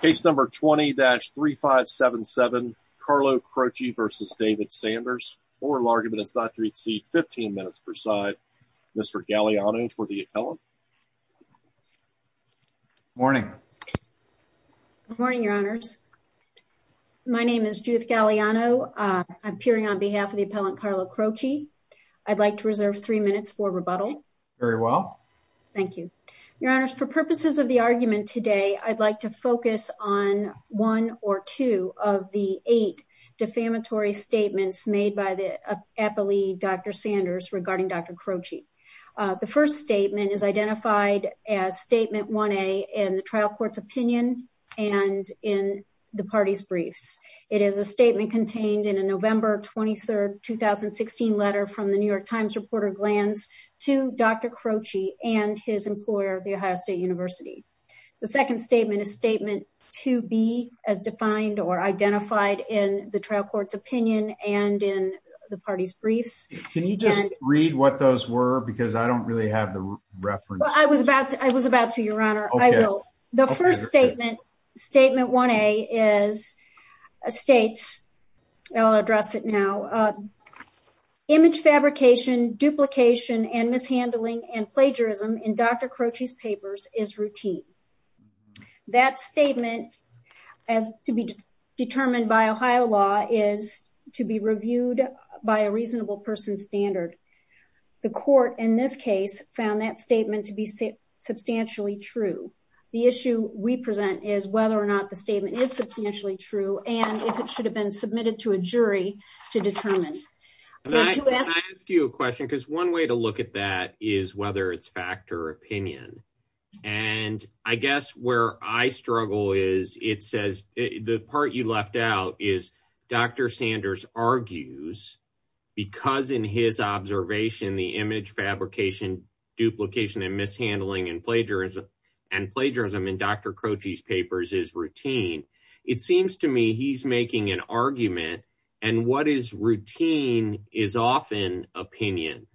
Case number 20-3577 Carlo Croce v. David Sanders. Oral argument is not to exceed 15 minutes per side. Mr. Galeano for the appellant. Morning. Morning, your honors. My name is Judith Galeano. I'm peering on behalf of the appellant Carlo Croce. I'd like to reserve three minutes for rebuttal. Very well. Thank you. Your honors, for purposes of the argument today, I'd like to focus on one or two of the eight defamatory statements made by the appellee Dr. Sanders regarding Dr. Croce. The first statement is identified as statement 1A in the trial court's opinion and in the party's briefs. It is a statement contained in a November 23, 2016 letter from the New York Times reporter Glantz to Dr. Croce and his employer, The Ohio State University. The second statement is statement 2B, as defined or identified in the trial court's opinion and in the party's briefs. Can you just read what those were? Because I don't really have the reference. I was about to, your honor. I will. The first statement, statement 1A, is states, I'll address it now, image fabrication, duplication, and mishandling and plagiarism in Dr. Croce's papers is routine. That statement, as to be determined by Ohio law, is to be reviewed by a reasonable person's standard. The court, in this case, found that statement to be substantially true. The issue we present is whether or not the statement is substantially true and if it should have been submitted to a jury to determine. Can I ask you a question? Because one way to look at that is whether it's fact or opinion. And I guess where I struggle is it says, the part you left out is Dr. Sanders argues, because in his observation, the image fabrication, duplication, and mishandling and plagiarism in Dr. Croce's papers is routine. It seems to me he's making an argument. And what is routine is often opinion.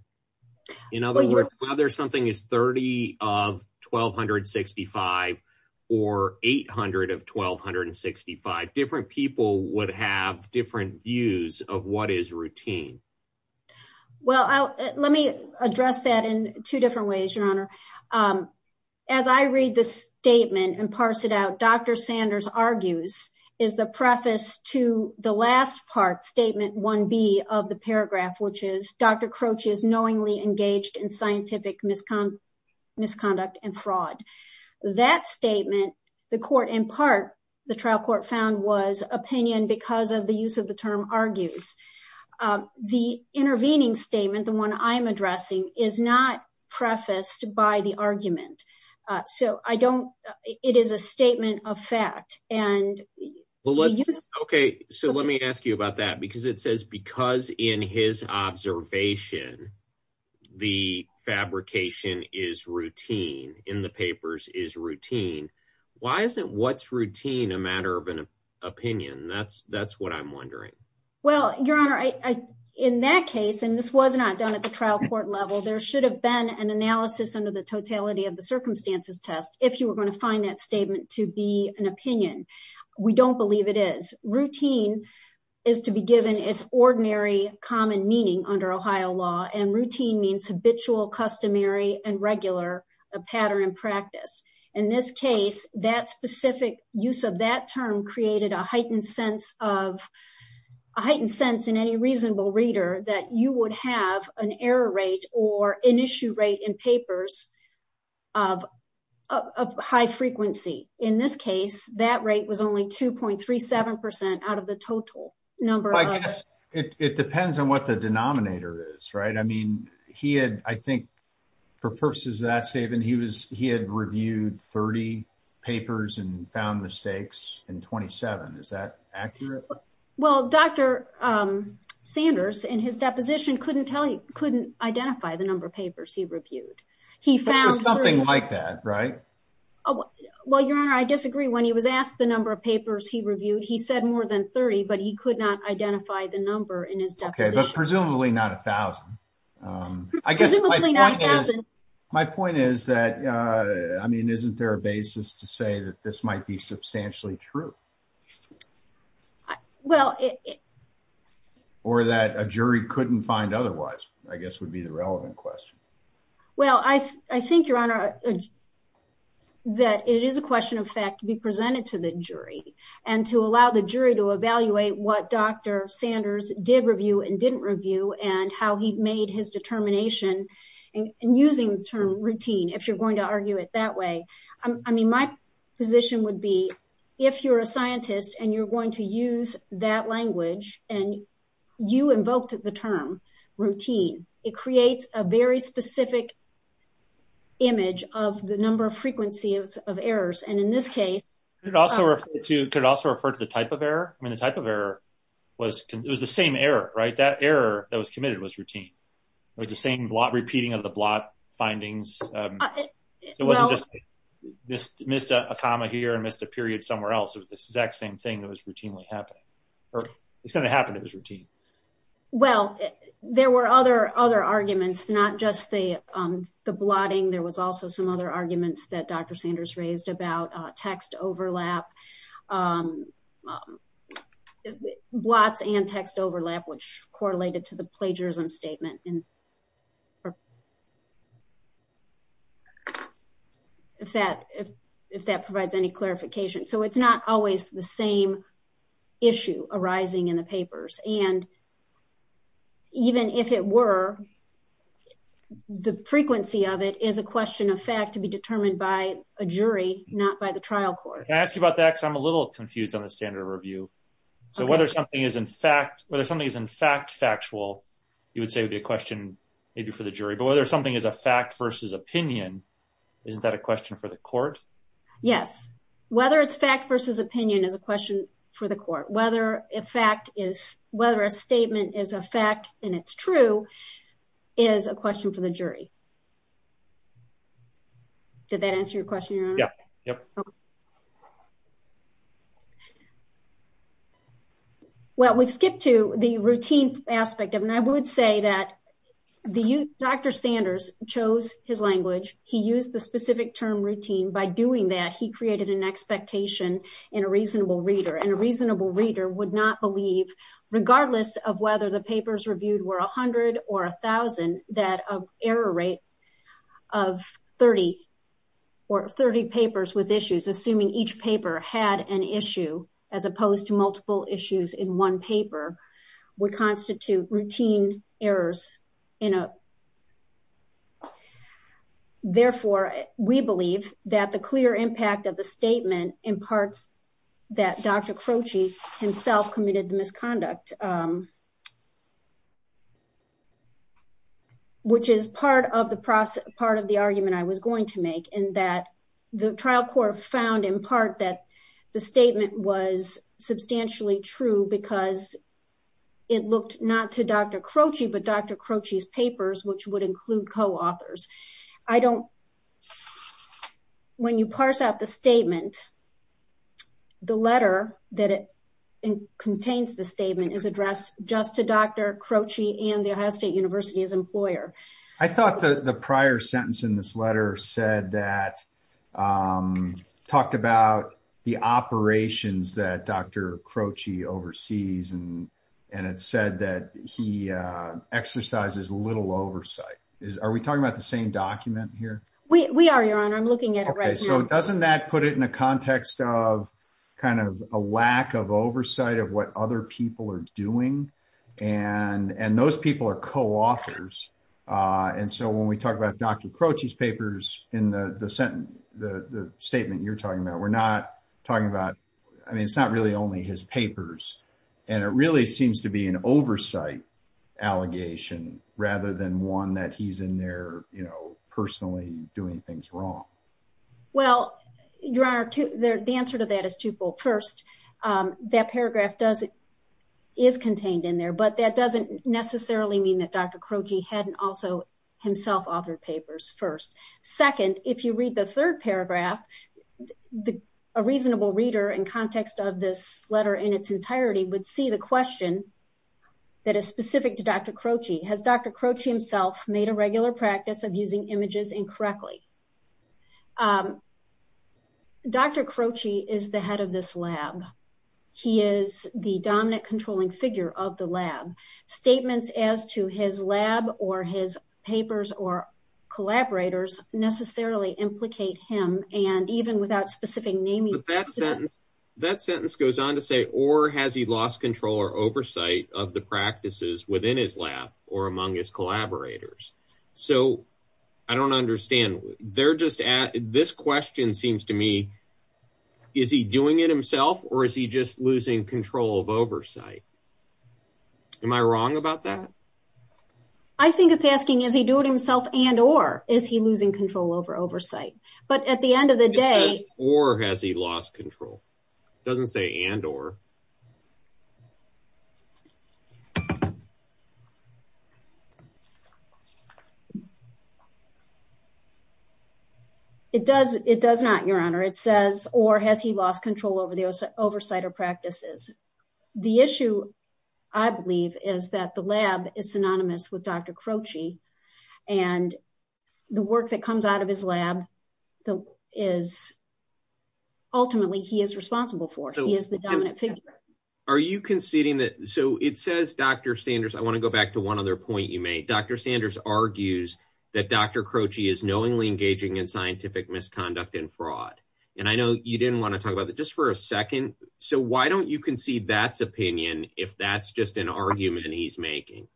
In other words, whether something is 30 of 1,265 or 800 of 1,265, different people would have different views of what is routine. Well, let me address that in two different ways, Your Honor. As I read this statement and parse it out, Dr. Sanders argues is the preface to the last part, statement 1B of the paragraph, which Dr. Croce is knowingly engaged in scientific misconduct and fraud. That statement, the court in part, the trial court found, was opinion because of the use of the term argues. The intervening statement, the one I'm addressing, is not prefaced by the argument. So I don't, it is a statement of fact. And he used it. OK, so let me ask you about that. Because it says, because in his observation, the fabrication is routine, in the papers is routine. Why isn't what's routine a matter of an opinion? That's what I'm wondering. Well, Your Honor, in that case, and this was not done at the trial court level, there should have been an analysis under the totality of the circumstances test if you were going to find that statement to be an opinion. We don't believe it is. Routine is to be given its ordinary common meaning under Ohio law. And routine means habitual, customary, and regular a pattern in practice. In this case, that specific use of that term created a heightened sense of, a heightened sense in any reasonable reader that you would have an error rate or an issue rate in papers of high frequency. In this case, that rate was only 2.37% out of the total number. I guess it depends on what the denominator is, right? I mean, he had, I think, for purposes of that statement, he had reviewed 30 papers and found mistakes in 27. Is that accurate? Well, Dr. Sanders, in his deposition, couldn't tell you, couldn't identify the number of papers he reviewed. He found 30. It's something like that, right? Well, Your Honor, I disagree. When he was asked the number of papers he reviewed, he said more than 30, but he could not identify the number in his deposition. OK, but presumably not 1,000. I guess my point is that, I mean, isn't there a basis to say that this might be substantially true? Or that a jury couldn't find otherwise, I guess, would be the relevant question. Well, I think, Your Honor, that it is a question of fact to be presented to the jury and to allow the jury to evaluate what Dr. Sanders did review and didn't review and how he made his determination in using the term routine, if you're going to argue it that way. I mean, my position would be, if you're a scientist and you're going to use that language and you invoked the term routine, it creates a very specific image of the number of frequencies of errors. And in this case, Could it also refer to the type of error? I mean, the type of error was the same error, right? That error that was committed was routine. It was the same blot repeating of the blot findings. It wasn't just missed a comma here and missed a period somewhere else. It was the exact same thing that was routinely happening. Or it's not that it happened, it was routine. Well, there were other arguments, not just the blotting. There was also some other arguments that Dr. Sanders raised about text overlap, blots and text overlap, which correlated to the plagiarism statement. If that provides any clarification. So it's not always the same issue arising in the papers. And even if it were, the frequency of it is a question of fact to be determined by a jury, not by the trial court. Can I ask you about that? Because I'm a little confused on the standard of review. So whether something is in fact factual, you would say would be a question maybe for the jury, but whether something is a fact versus opinion, isn't that a question for the court? Yes. Whether it's fact versus opinion is a question for the court. Whether a fact is, whether a statement is a fact and it's true is a question for the jury. Did that answer your question, Your Honor? Yeah, yep. Well, we've skipped to the routine aspect of, and I would say that Dr. Sanders chose his language. He used the specific term routine. By doing that, he created an expectation in a reasonable reader. And a reasonable reader would not believe, regardless of whether the papers reviewed were 100 or 1,000, that an error rate of 30, or 30 papers with issues, assuming each paper had an issue, as opposed to multiple issues in one paper, would constitute routine errors. Therefore, we believe that the clear impact of the statement imparts that Dr. Croci himself committed the misconduct, which is part of the argument I was going to make, in that the trial court found, in part, that the statement was substantially true because it looked not to Dr. Croci, but Dr. Croci's papers, which would include co-authors. I don't, when you parse out the statement, the letter that contains the statement is addressed just to Dr. Croci and the Ohio State University as employer. I thought the prior sentence in this letter said that, talked about the operations that Dr. Croci oversees, and it said that he exercises little oversight. Are we talking about the same document here? We are, Your Honor. I'm looking at it right now. Okay, so doesn't that put it in a context of kind of a lack of oversight of what other people are doing? And those people are co-authors. And so when we talk about Dr. Croci's papers in the statement you're talking about, we're not talking about, I mean, it's not really only his papers. And it really seems to be an oversight allegation rather than one that he's in there personally doing things wrong. Well, Your Honor, the answer to that is twofold. First, that paragraph is contained in there, but that doesn't necessarily mean that Dr. Croci hadn't also himself authored papers first. Second, if you read the third paragraph, a reasonable reader in context of this letter in its entirety would see the question that is specific to Dr. Croci. Has Dr. Croci himself made a regular practice of using images incorrectly? Dr. Croci is the head of this lab. He is the dominant controlling figure of the lab. Statements as to his lab or his papers or collaborators necessarily implicate him. And even without specific naming- But that sentence goes on to say, or has he lost control or oversight of the practices within his lab or among his collaborators? So I don't understand. They're just at, this question seems to me, is he doing it himself or is he just losing control of oversight? Am I wrong about that? I think it's asking, is he doing it himself and, or is he losing control over oversight? But at the end of the day- Or has he lost control? It doesn't say and, or. It does not, Your Honor. It says, or has he lost control over the oversight or practices? The issue, I believe, is that the lab is synonymous with Dr. Croci. And the work that comes out of his lab is, ultimately, he is responsible for. He is the dominant figure. Are you conceding that, so it says Dr. Sanders, I want to go back to one other point you made. Dr. Sanders argues that Dr. Croci is knowingly engaging in scientific misconduct and fraud. And I know you didn't want to talk about that, just for a second. So why don't you concede that's opinion if that's just an argument he's making?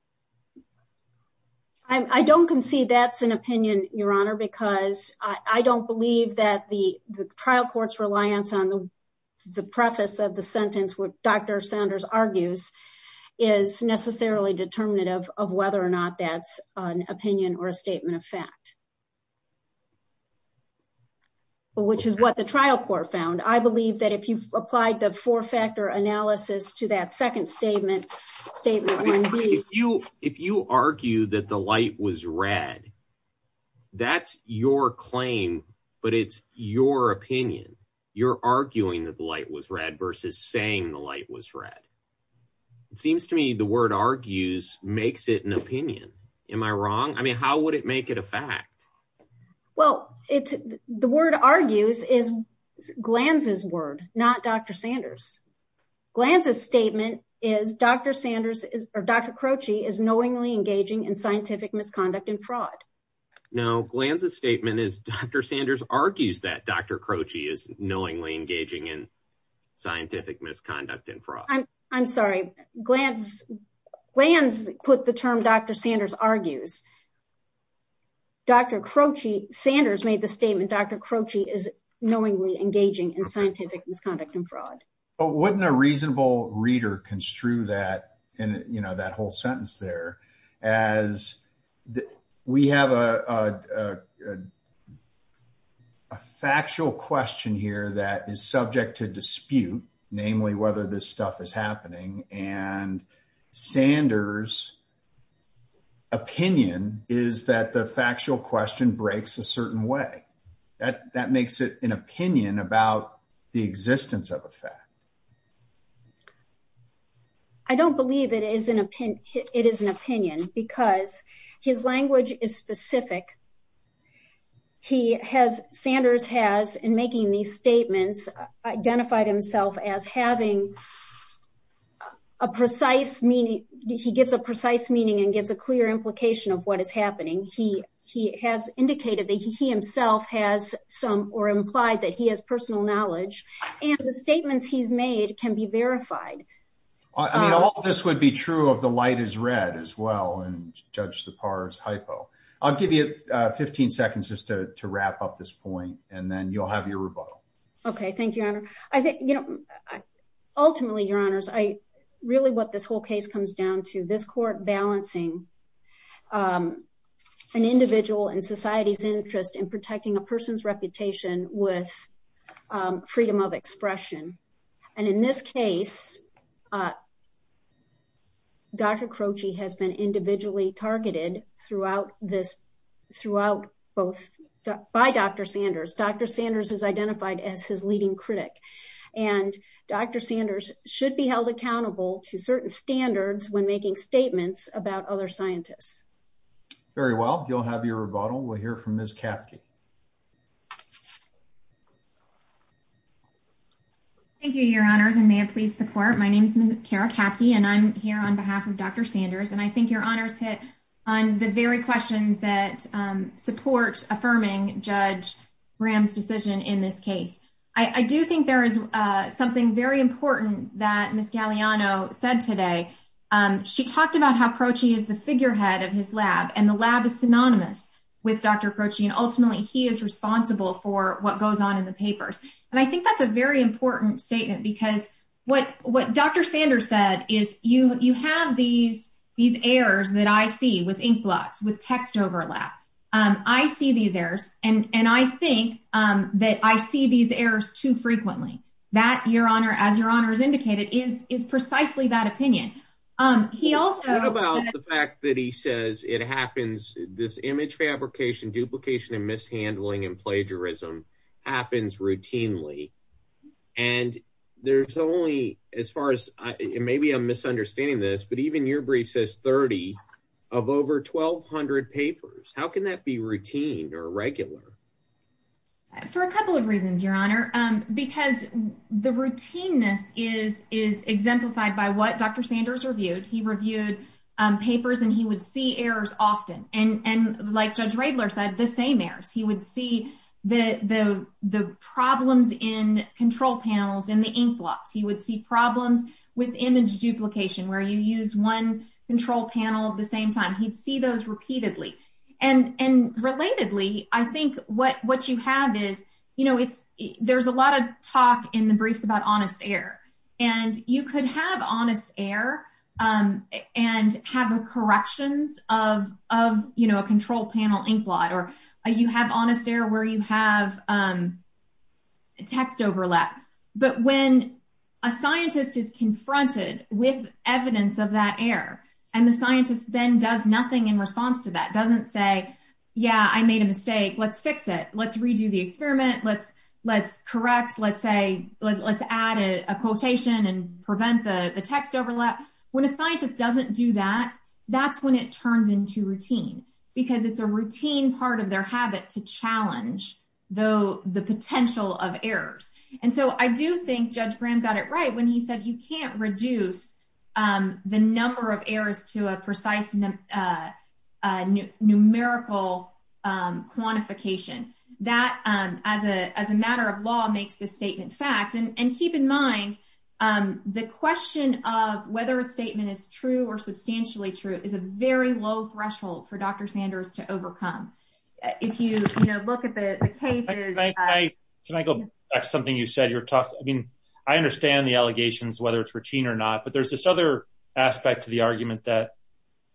I don't concede that's an opinion, Your Honor, because I don't believe that the trial court's reliance on the preface of the sentence, what Dr. Sanders argues, is necessarily determinative of whether or not that's an opinion or a statement of fact. Which is what the trial court found. I believe that if you've applied the four-factor analysis to that second statement, statement one, please. If you argue that the light was red, that's your claim, but it's your opinion. You're arguing that the light was red versus saying the light was red. It seems to me the word argues makes it an opinion. Am I wrong? I mean, how would it make it a fact? Well, the word argues is Glantz's word, not Dr. Sanders. Glantz's statement is Dr. Croci is knowingly engaging in scientific misconduct and fraud. No, Glantz's statement is Dr. Sanders argues that Dr. Croci is knowingly engaging in scientific misconduct and fraud. I'm sorry, Glantz put the term Dr. Sanders argues. Dr. Croci, Sanders made the statement, Dr. Croci is knowingly engaging in scientific misconduct and fraud. But wouldn't a reasonable reader construe that, you know, that whole sentence there as we have a factual question here that is subject to dispute, namely whether this stuff is happening, and Sanders' opinion is that the factual question breaks a certain way. That makes it an opinion about the existence of a fact. I don't believe it is an opinion because his language is specific. He has, Sanders has in making these statements identified himself as having a precise meaning. He gives a precise meaning and gives a clear implication of what is happening. He has indicated that he himself has some or implied that he has personal knowledge. And the statements he's made can be verified. I mean, all of this would be true of the light is red as well and judge the par's hypo. I'll give you 15 seconds just to wrap up this point and then you'll have your rebuttal. Okay, thank you, Your Honor. I think, you know, ultimately, Your Honors, really what this whole case comes down to, this court balancing an individual and society's interest in protecting a person's reputation with freedom of expression. And in this case, Dr. Croci has been individually targeted throughout this, throughout both by Dr. Sanders. Dr. Sanders is identified as his leading critic and Dr. Sanders should be held accountable to certain standards when making statements about other scientists. Very well, you'll have your rebuttal. We'll hear from Ms. Kapke. Thank you, Your Honors, and may it please the court. My name is Kara Kapke and I'm here on behalf of Dr. Sanders. And I think Your Honors hit on the very questions that support affirming Judge Graham's decision in this case. I do think there is something very important that Ms. Galeano said today. She talked about how Croci is the figurehead of his lab and the lab is synonymous with Dr. Croci and ultimately he is responsible for what goes on in the papers. And I think that's a very important statement because what Dr. Sanders said is you have these errors that I see with inkblots, with text overlap. I see these errors and I think that I see these errors too frequently. That, Your Honor, as Your Honor has indicated, is precisely that opinion. He also- The fact that he says it happens, this image fabrication, duplication and mishandling and plagiarism happens routinely. And there's only, as far as, maybe I'm misunderstanding this, but even your brief says 30 of over 1,200 papers. How can that be routine or regular? For a couple of reasons, Your Honor, because the routineness is exemplified by what Dr. Sanders reviewed. He reviewed papers and he would see errors often. And like Judge Radler said, the same errors. He would see the problems in control panels in the inkblots. He would see problems with image duplication where you use one control panel at the same time. He'd see those repeatedly. And relatedly, I think what you have is, there's a lot of talk in the briefs about honest error. And you could have honest error and have the corrections of a control panel inkblot, or you have honest error where you have text overlap. But when a scientist is confronted with evidence of that error, and the scientist then does nothing in response to that, doesn't say, yeah, I made a mistake, let's fix it. Let's redo the experiment. Let's correct. Let's add a quotation and prevent the text overlap. When a scientist doesn't do that, that's when it turns into routine, because it's a routine part of their habit to challenge the potential of errors. And so I do think Judge Graham got it right when he said you can't reduce the number of errors to a precise numerical quantification. That, as a matter of law, makes this statement fact. And keep in mind, the question of whether a statement is true or substantially true is a very low threshold for Dr. Sanders to overcome. If you look at the cases- Can I go back to something you said? I mean, I understand the allegations, whether it's routine or not, but there's this other aspect to the argument that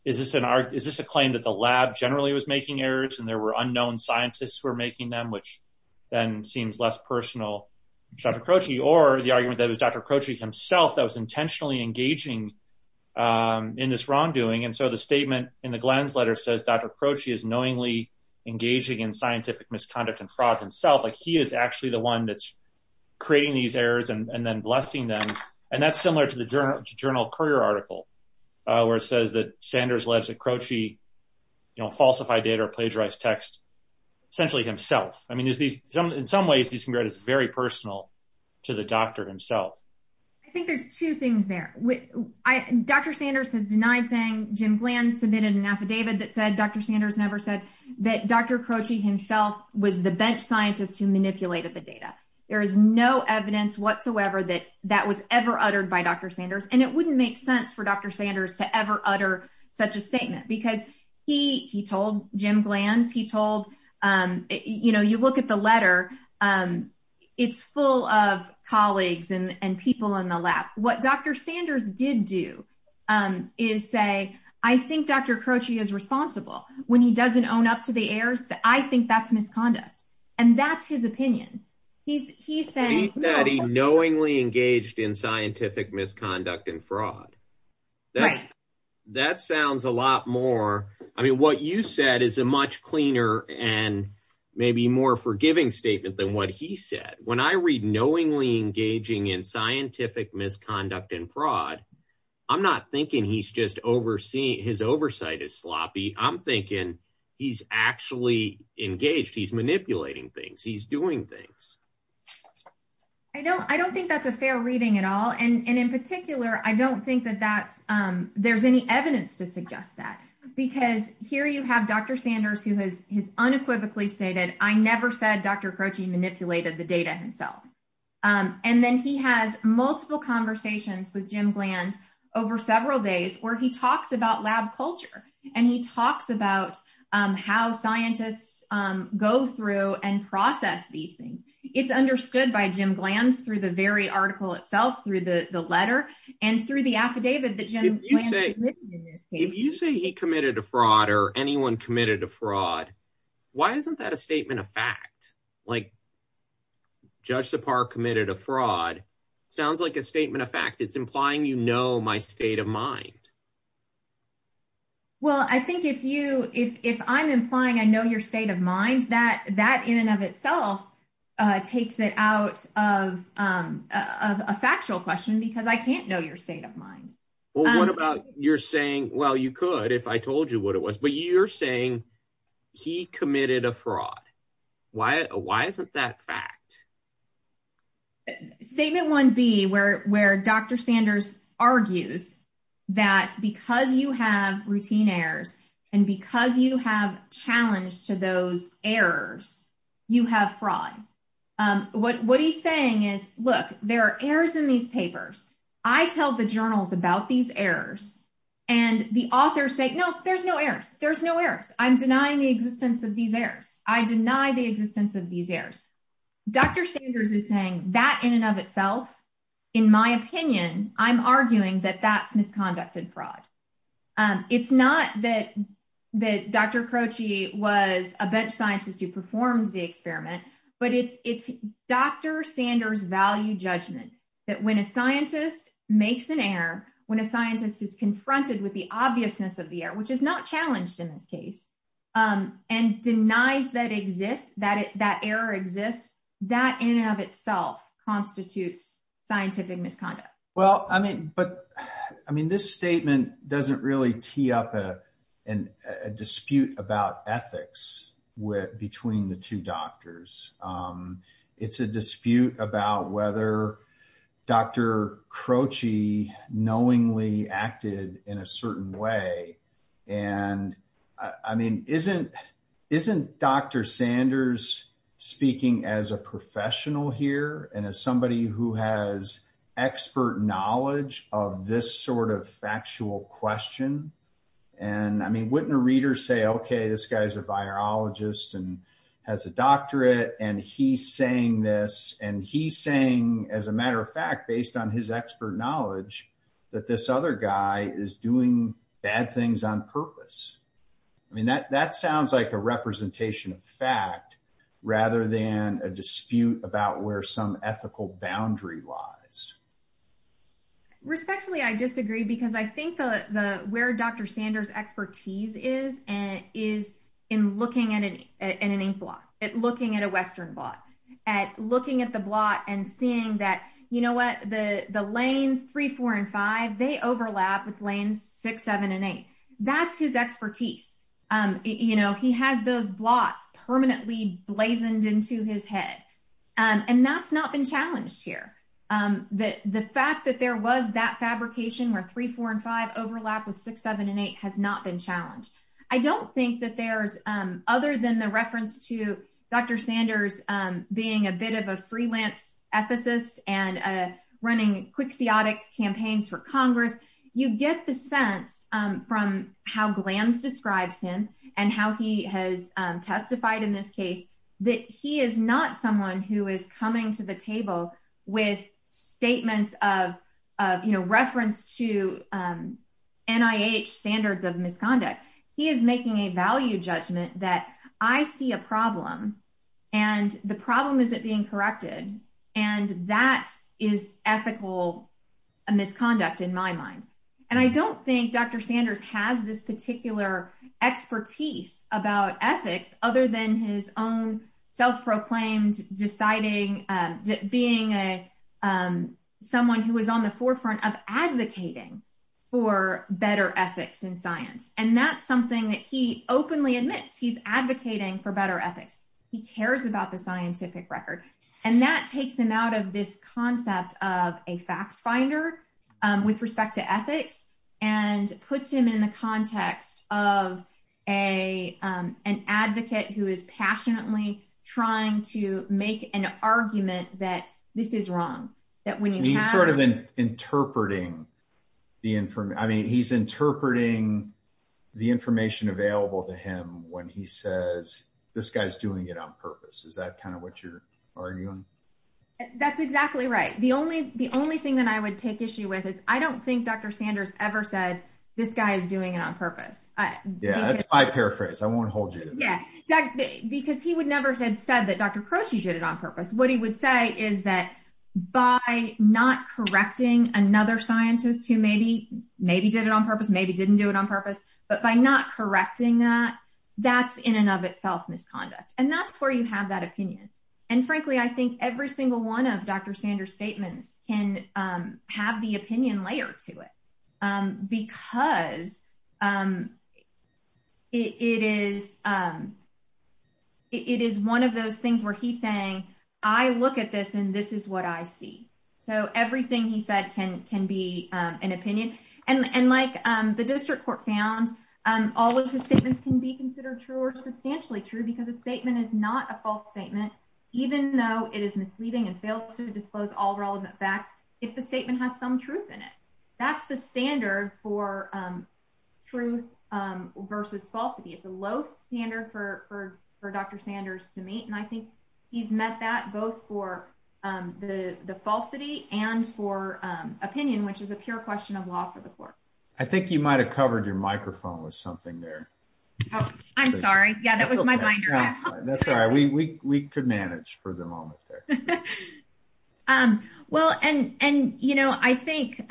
is this a claim that the lab generally was making errors and there were unknown scientists who were making them, which then seems less personal to Dr. Croci, or the argument that it was Dr. Croci himself that was intentionally engaging in this wrongdoing. And so the statement in the Glenn's letter says, Dr. Croci is knowingly engaging in scientific misconduct and fraud himself. Like he is actually the one that's creating these errors and then blessing them. And that's similar to the journal Courier article, where it says that Sanders lets Croci falsify data or plagiarize text. Essentially himself. I mean, in some ways, this can be very personal to the doctor himself. I think there's two things there. Dr. Sanders has denied saying Jim Glenn submitted an affidavit that said Dr. Sanders never said that Dr. Croci himself was the bench scientist who manipulated the data. There is no evidence whatsoever that that was ever uttered by Dr. Sanders. And it wouldn't make sense for Dr. Sanders to ever utter such a statement because he told Jim Glenn, he told, you know, you look at the letter, it's full of colleagues and people in the lab. What Dr. Sanders did do is say, I think Dr. Croci is responsible when he doesn't own up to the errors, I think that's misconduct. And that's his opinion. He's saying- I think that he knowingly engaged in scientific misconduct and fraud. That sounds a lot more, I mean, what you said is a much cleaner and maybe more forgiving statement than what he said. When I read knowingly engaging in scientific misconduct and fraud, I'm not thinking he's just overseeing, his oversight is sloppy. I'm thinking he's actually engaged. He's manipulating things. He's doing things. I don't think that's a fair reading at all. And in particular, I don't think that that's, there's any evidence to suggest that. Because here you have Dr. Sanders who has unequivocally stated, I never said Dr. Croci manipulated the data himself. And then he has multiple conversations with Jim Glanz over several days where he talks about lab culture. And he talks about how scientists go through and process these things. It's understood by Jim Glanz through the very article itself, through the letter and through the affidavit that Jim Glanz submitted in this case. If you say he committed a fraud or anyone committed a fraud, why isn't that a statement of fact? Like Judge Sipar committed a fraud. Sounds like a statement of fact. It's implying, you know, my state of mind. Well, I think if you, if I'm implying I know your state of mind, that in and of itself takes it out of a factual question because I can't know your state of mind. Well, what about you're saying, well, you could if I told you what it was, but you're saying he committed a fraud. Why isn't that fact? Statement 1B where Dr. Sanders argues that because you have routine errors and because you have challenged to those errors, you have fraud. What he's saying is, look, there are errors in these papers. I tell the journals about these errors and the authors say, no, there's no errors. There's no errors. I'm denying the existence of these errors. I deny the existence of these errors. Dr. Sanders is saying that in and of itself, in my opinion, I'm arguing that that's misconducted fraud. It's not that Dr. Croci was a bench scientist who performed the experiment, but it's Dr. Sanders value judgment that when a scientist makes an error, when a scientist is confronted with the obviousness of the error, which is not challenged in this case and denies that exist, that error exists, that in and of itself constitutes scientific misconduct. Well, I mean, but I mean, this statement doesn't really tee up a dispute about ethics between the two doctors. It's a dispute about whether Dr. Croci knows or knowingly acted in a certain way. And I mean, isn't Dr. Sanders speaking as a professional here and as somebody who has expert knowledge of this sort of factual question? And I mean, wouldn't a reader say, okay, this guy's a virologist and has a doctorate based on his expert knowledge that this other guy is doing bad things on purpose. I mean, that sounds like a representation of fact rather than a dispute about where some ethical boundary lies. Respectfully, I disagree because I think where Dr. Sanders' expertise is and is in looking at an inkblot, at looking at a Western blot, at looking at the blot and seeing that, you know what, the lanes three, four, and five, they overlap with lanes six, seven, and eight. That's his expertise. You know, he has those blots permanently blazoned into his head. And that's not been challenged here. The fact that there was that fabrication where three, four, and five overlap with six, seven, and eight has not been challenged. I don't think that there's, other than the reference to Dr. Sanders being a bit of a freelance ethicist and running quixotic campaigns for Congress, you get the sense from how Glantz describes him and how he has testified in this case that he is not someone who is coming to the table with statements of, you know, reference to NIH standards of misconduct. He is making a value judgment that I see a problem and the problem isn't being corrected. And that is ethical misconduct in my mind. And I don't think Dr. Sanders has this particular expertise about ethics other than his own self-proclaimed deciding, being someone who was on the forefront of advocating for better ethics in science. And that's something that he openly admits he's advocating for better ethics. He cares about the scientific record. And that takes him out of this concept of a facts finder with respect to ethics and puts him in the context of an advocate who is passionately trying to make an argument that this is wrong. That when you have- He's sort of interpreting the information. I mean, he's interpreting the information available to him when he says, this guy's doing it on purpose. Is that kind of what you're arguing? That's exactly right. The only thing that I would take issue with is I don't think Dr. Sanders ever said this guy is doing it on purpose. Yeah, I paraphrase. I won't hold you to that. Yeah, because he would never have said that Dr. Croce did it on purpose. What he would say is that by not correcting another scientist who maybe did it on purpose, maybe didn't do it on purpose, but by not correcting that, that's in and of itself misconduct. And that's where you have that opinion. And frankly, I think every single one of Dr. Sanders' statements can have the opinion layer to it because it is one of those things where he's saying, I look at this and this is what I see. So everything he said can be an opinion. And like the district court found, all of his statements can be considered true or substantially true because a statement is not a false statement, even though it is misleading and fails to disclose all relevant facts if the statement has some truth in it. That's the standard for truth versus falsity. It's a low standard for Dr. Sanders to meet. And I think he's met that both for the falsity and for opinion, which is a pure question of law for the court. I think you might've covered your microphone with something there. Oh, I'm sorry. Yeah, that was my binder. That's all right. We could manage for the moment there. Well, and I think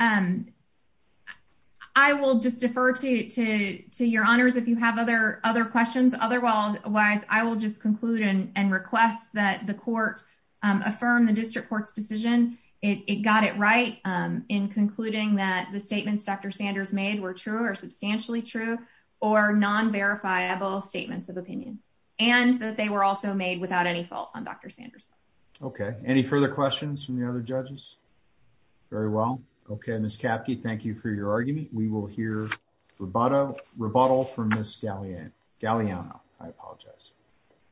I will just defer to your honors if you have other questions. Otherwise, I will just conclude and request that the court affirm the district court's decision. It got it right in concluding that the statements Dr. Sanders made were true or non-verifiable statements of opinion, and that they were also made without any fault on Dr. Sanders' part. Okay. Any further questions from the other judges? Very well. Okay, Ms. Capke, thank you for your argument. We will hear rebuttal from Ms. Galeano. I apologize.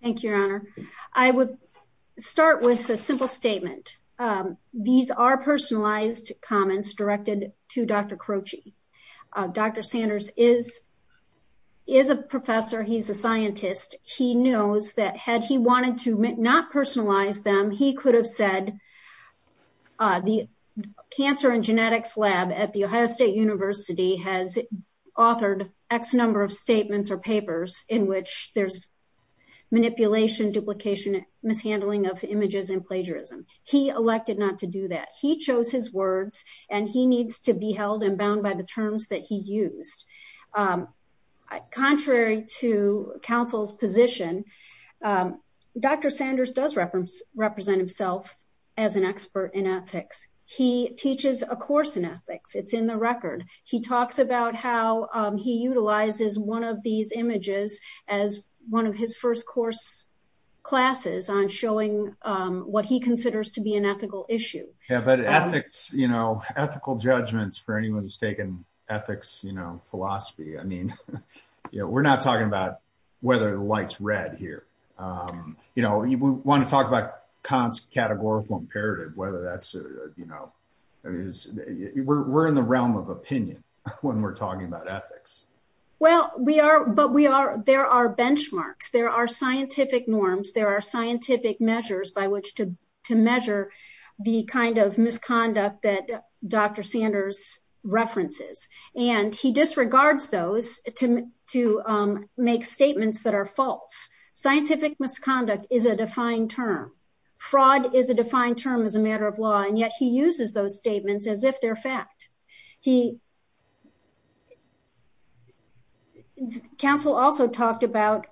Thank you, your honor. I would start with a simple statement. These are personalized comments directed to Dr. Croci. Dr. Sanders is a professor, he's a scientist. He knows that had he wanted to not personalize them, he could have said the cancer and genetics lab at The Ohio State University has authored X number of statements or papers in which there's manipulation, duplication, mishandling of images and plagiarism. He elected not to do that. He chose his words, and he needs to be held and bound by the terms that he used. Contrary to counsel's position, Dr. Sanders does represent himself as an expert in ethics. He teaches a course in ethics, it's in the record. He talks about how he utilizes one of these images as one of his first course classes on showing what he considers to be an ethical issue. Yeah, but ethics, you know, ethical judgments for anyone who's taken ethics, you know, philosophy, I mean, we're not talking about whether the light's red here. You know, we want to talk about cons-categorical imperative, whether that's, you know, we're in the realm of opinion when we're talking about ethics. Well, we are, but we are, there are benchmarks, there are scientific norms, there are scientific measures by which to measure the kind of misconduct that Dr. Sanders references. And he disregards those to make statements that are false. Scientific misconduct is a defined term. Fraud is a defined term as a matter of law, and yet he uses those statements as if they're fact. Counsel also talked about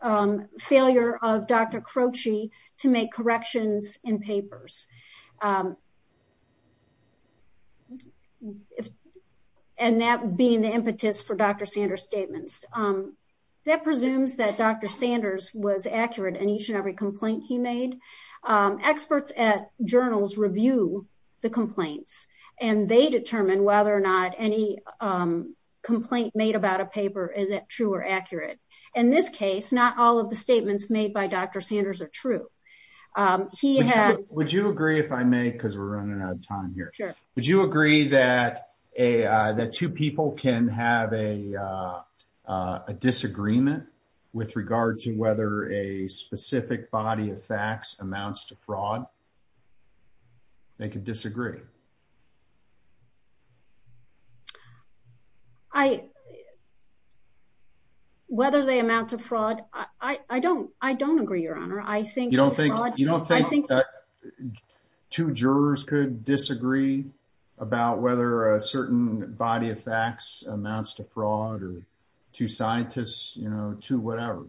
failure of Dr. Croci to make corrections in papers. And that being the impetus for Dr. Sanders' statements. That presumes that Dr. Sanders was accurate in each and every complaint he made. Experts at journals review the complaints and they determine whether or not any complaint made about a paper, is it true or accurate? In this case, not all of the statements made by Dr. Sanders are true. He has- Would you agree if I may, cause we're running out of time here. Would you agree that two people can have a disagreement with regard to whether a specific body of facts They can disagree. Whether they amount to fraud, I don't agree, your honor. I think- You don't think two jurors could disagree about whether a certain body of facts amounts to fraud or two scientists, you know, two whatever.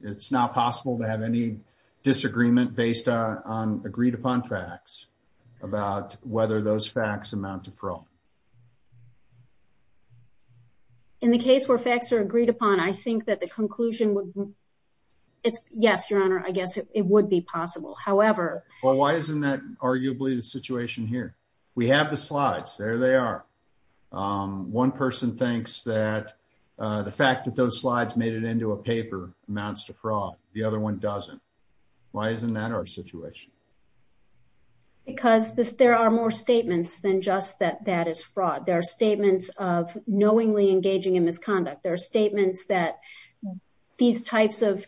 It's not possible to have any disagreement based on agreed upon facts about whether those facts amount to fraud. In the case where facts are agreed upon, I think that the conclusion would, yes, your honor, I guess it would be possible. However- Well, why isn't that arguably the situation here? We have the slides, there they are. One person thinks that the fact that those slides made it into a paper amounts to fraud. The other one doesn't. Why isn't that our situation? Because there are more statements than just that that is fraud. There are statements of knowingly engaging in misconduct. There are statements that these types of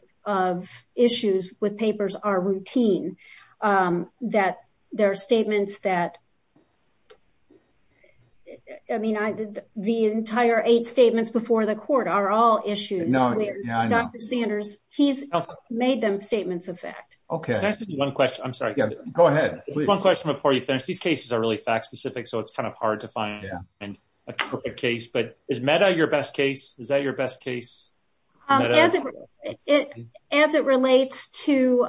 issues with papers are routine. That there are statements that, I mean, the entire eight statements before the court are all issues where Dr. Sanders, he's made them statements of fact. Okay. Can I ask you one question? I'm sorry. Go ahead, please. Just one question before you finish. These cases are really fact specific, so it's kind of hard to find a perfect case, but is MEDA your best case? Is that your best case? As it relates to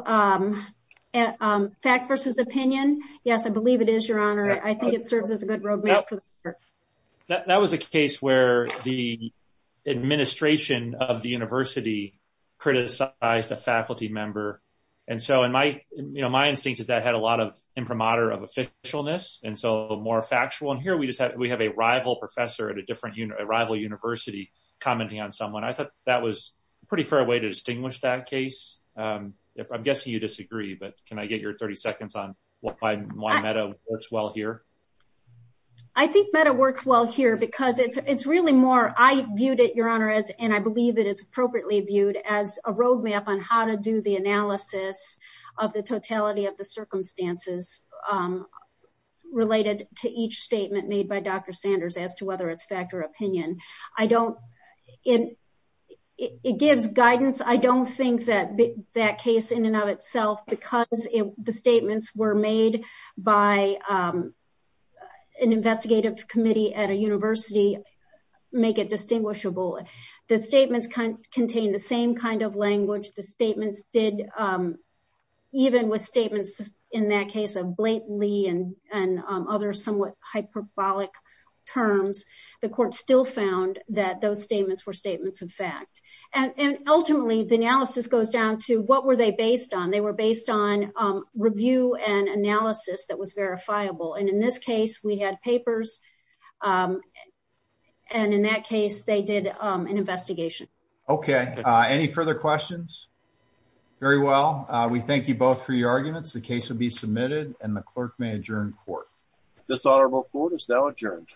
fact versus opinion, yes, I believe it is, your honor. I think it serves as a good road map for the court. That was a case where the administration of the university criticized a faculty member. And so my instinct is that had a lot of imprimatur of officialness. And so more factual in here, we have a rival professor at a rival university commenting on someone. I thought that was a pretty fair way to distinguish that case. I'm guessing you disagree, but can I get your 30 seconds on why MEDA works well here? I think MEDA works well here because it's really more, I viewed it, your honor, and I believe that it's appropriately viewed as a road map on how to do the analysis of the totality of the circumstances related to each statement made by Dr. Sanders as to whether it's fact or opinion. It gives guidance. I don't think that that case in and of itself, because the statements were made by an investigative committee at a university make it distinguishable. The statements contain the same kind of language. The statements did, even with statements in that case of blatantly and other somewhat hyperbolic terms, the court still found that those statements were statements of fact. And ultimately the analysis goes down to what were they based on? They were based on review and analysis that was verifiable. And in this case, we had papers. And in that case, they did an investigation. Okay, any further questions? Very well. We thank you both for your arguments. The case will be submitted and the clerk may adjourn court. Dishonorable court is now adjourned.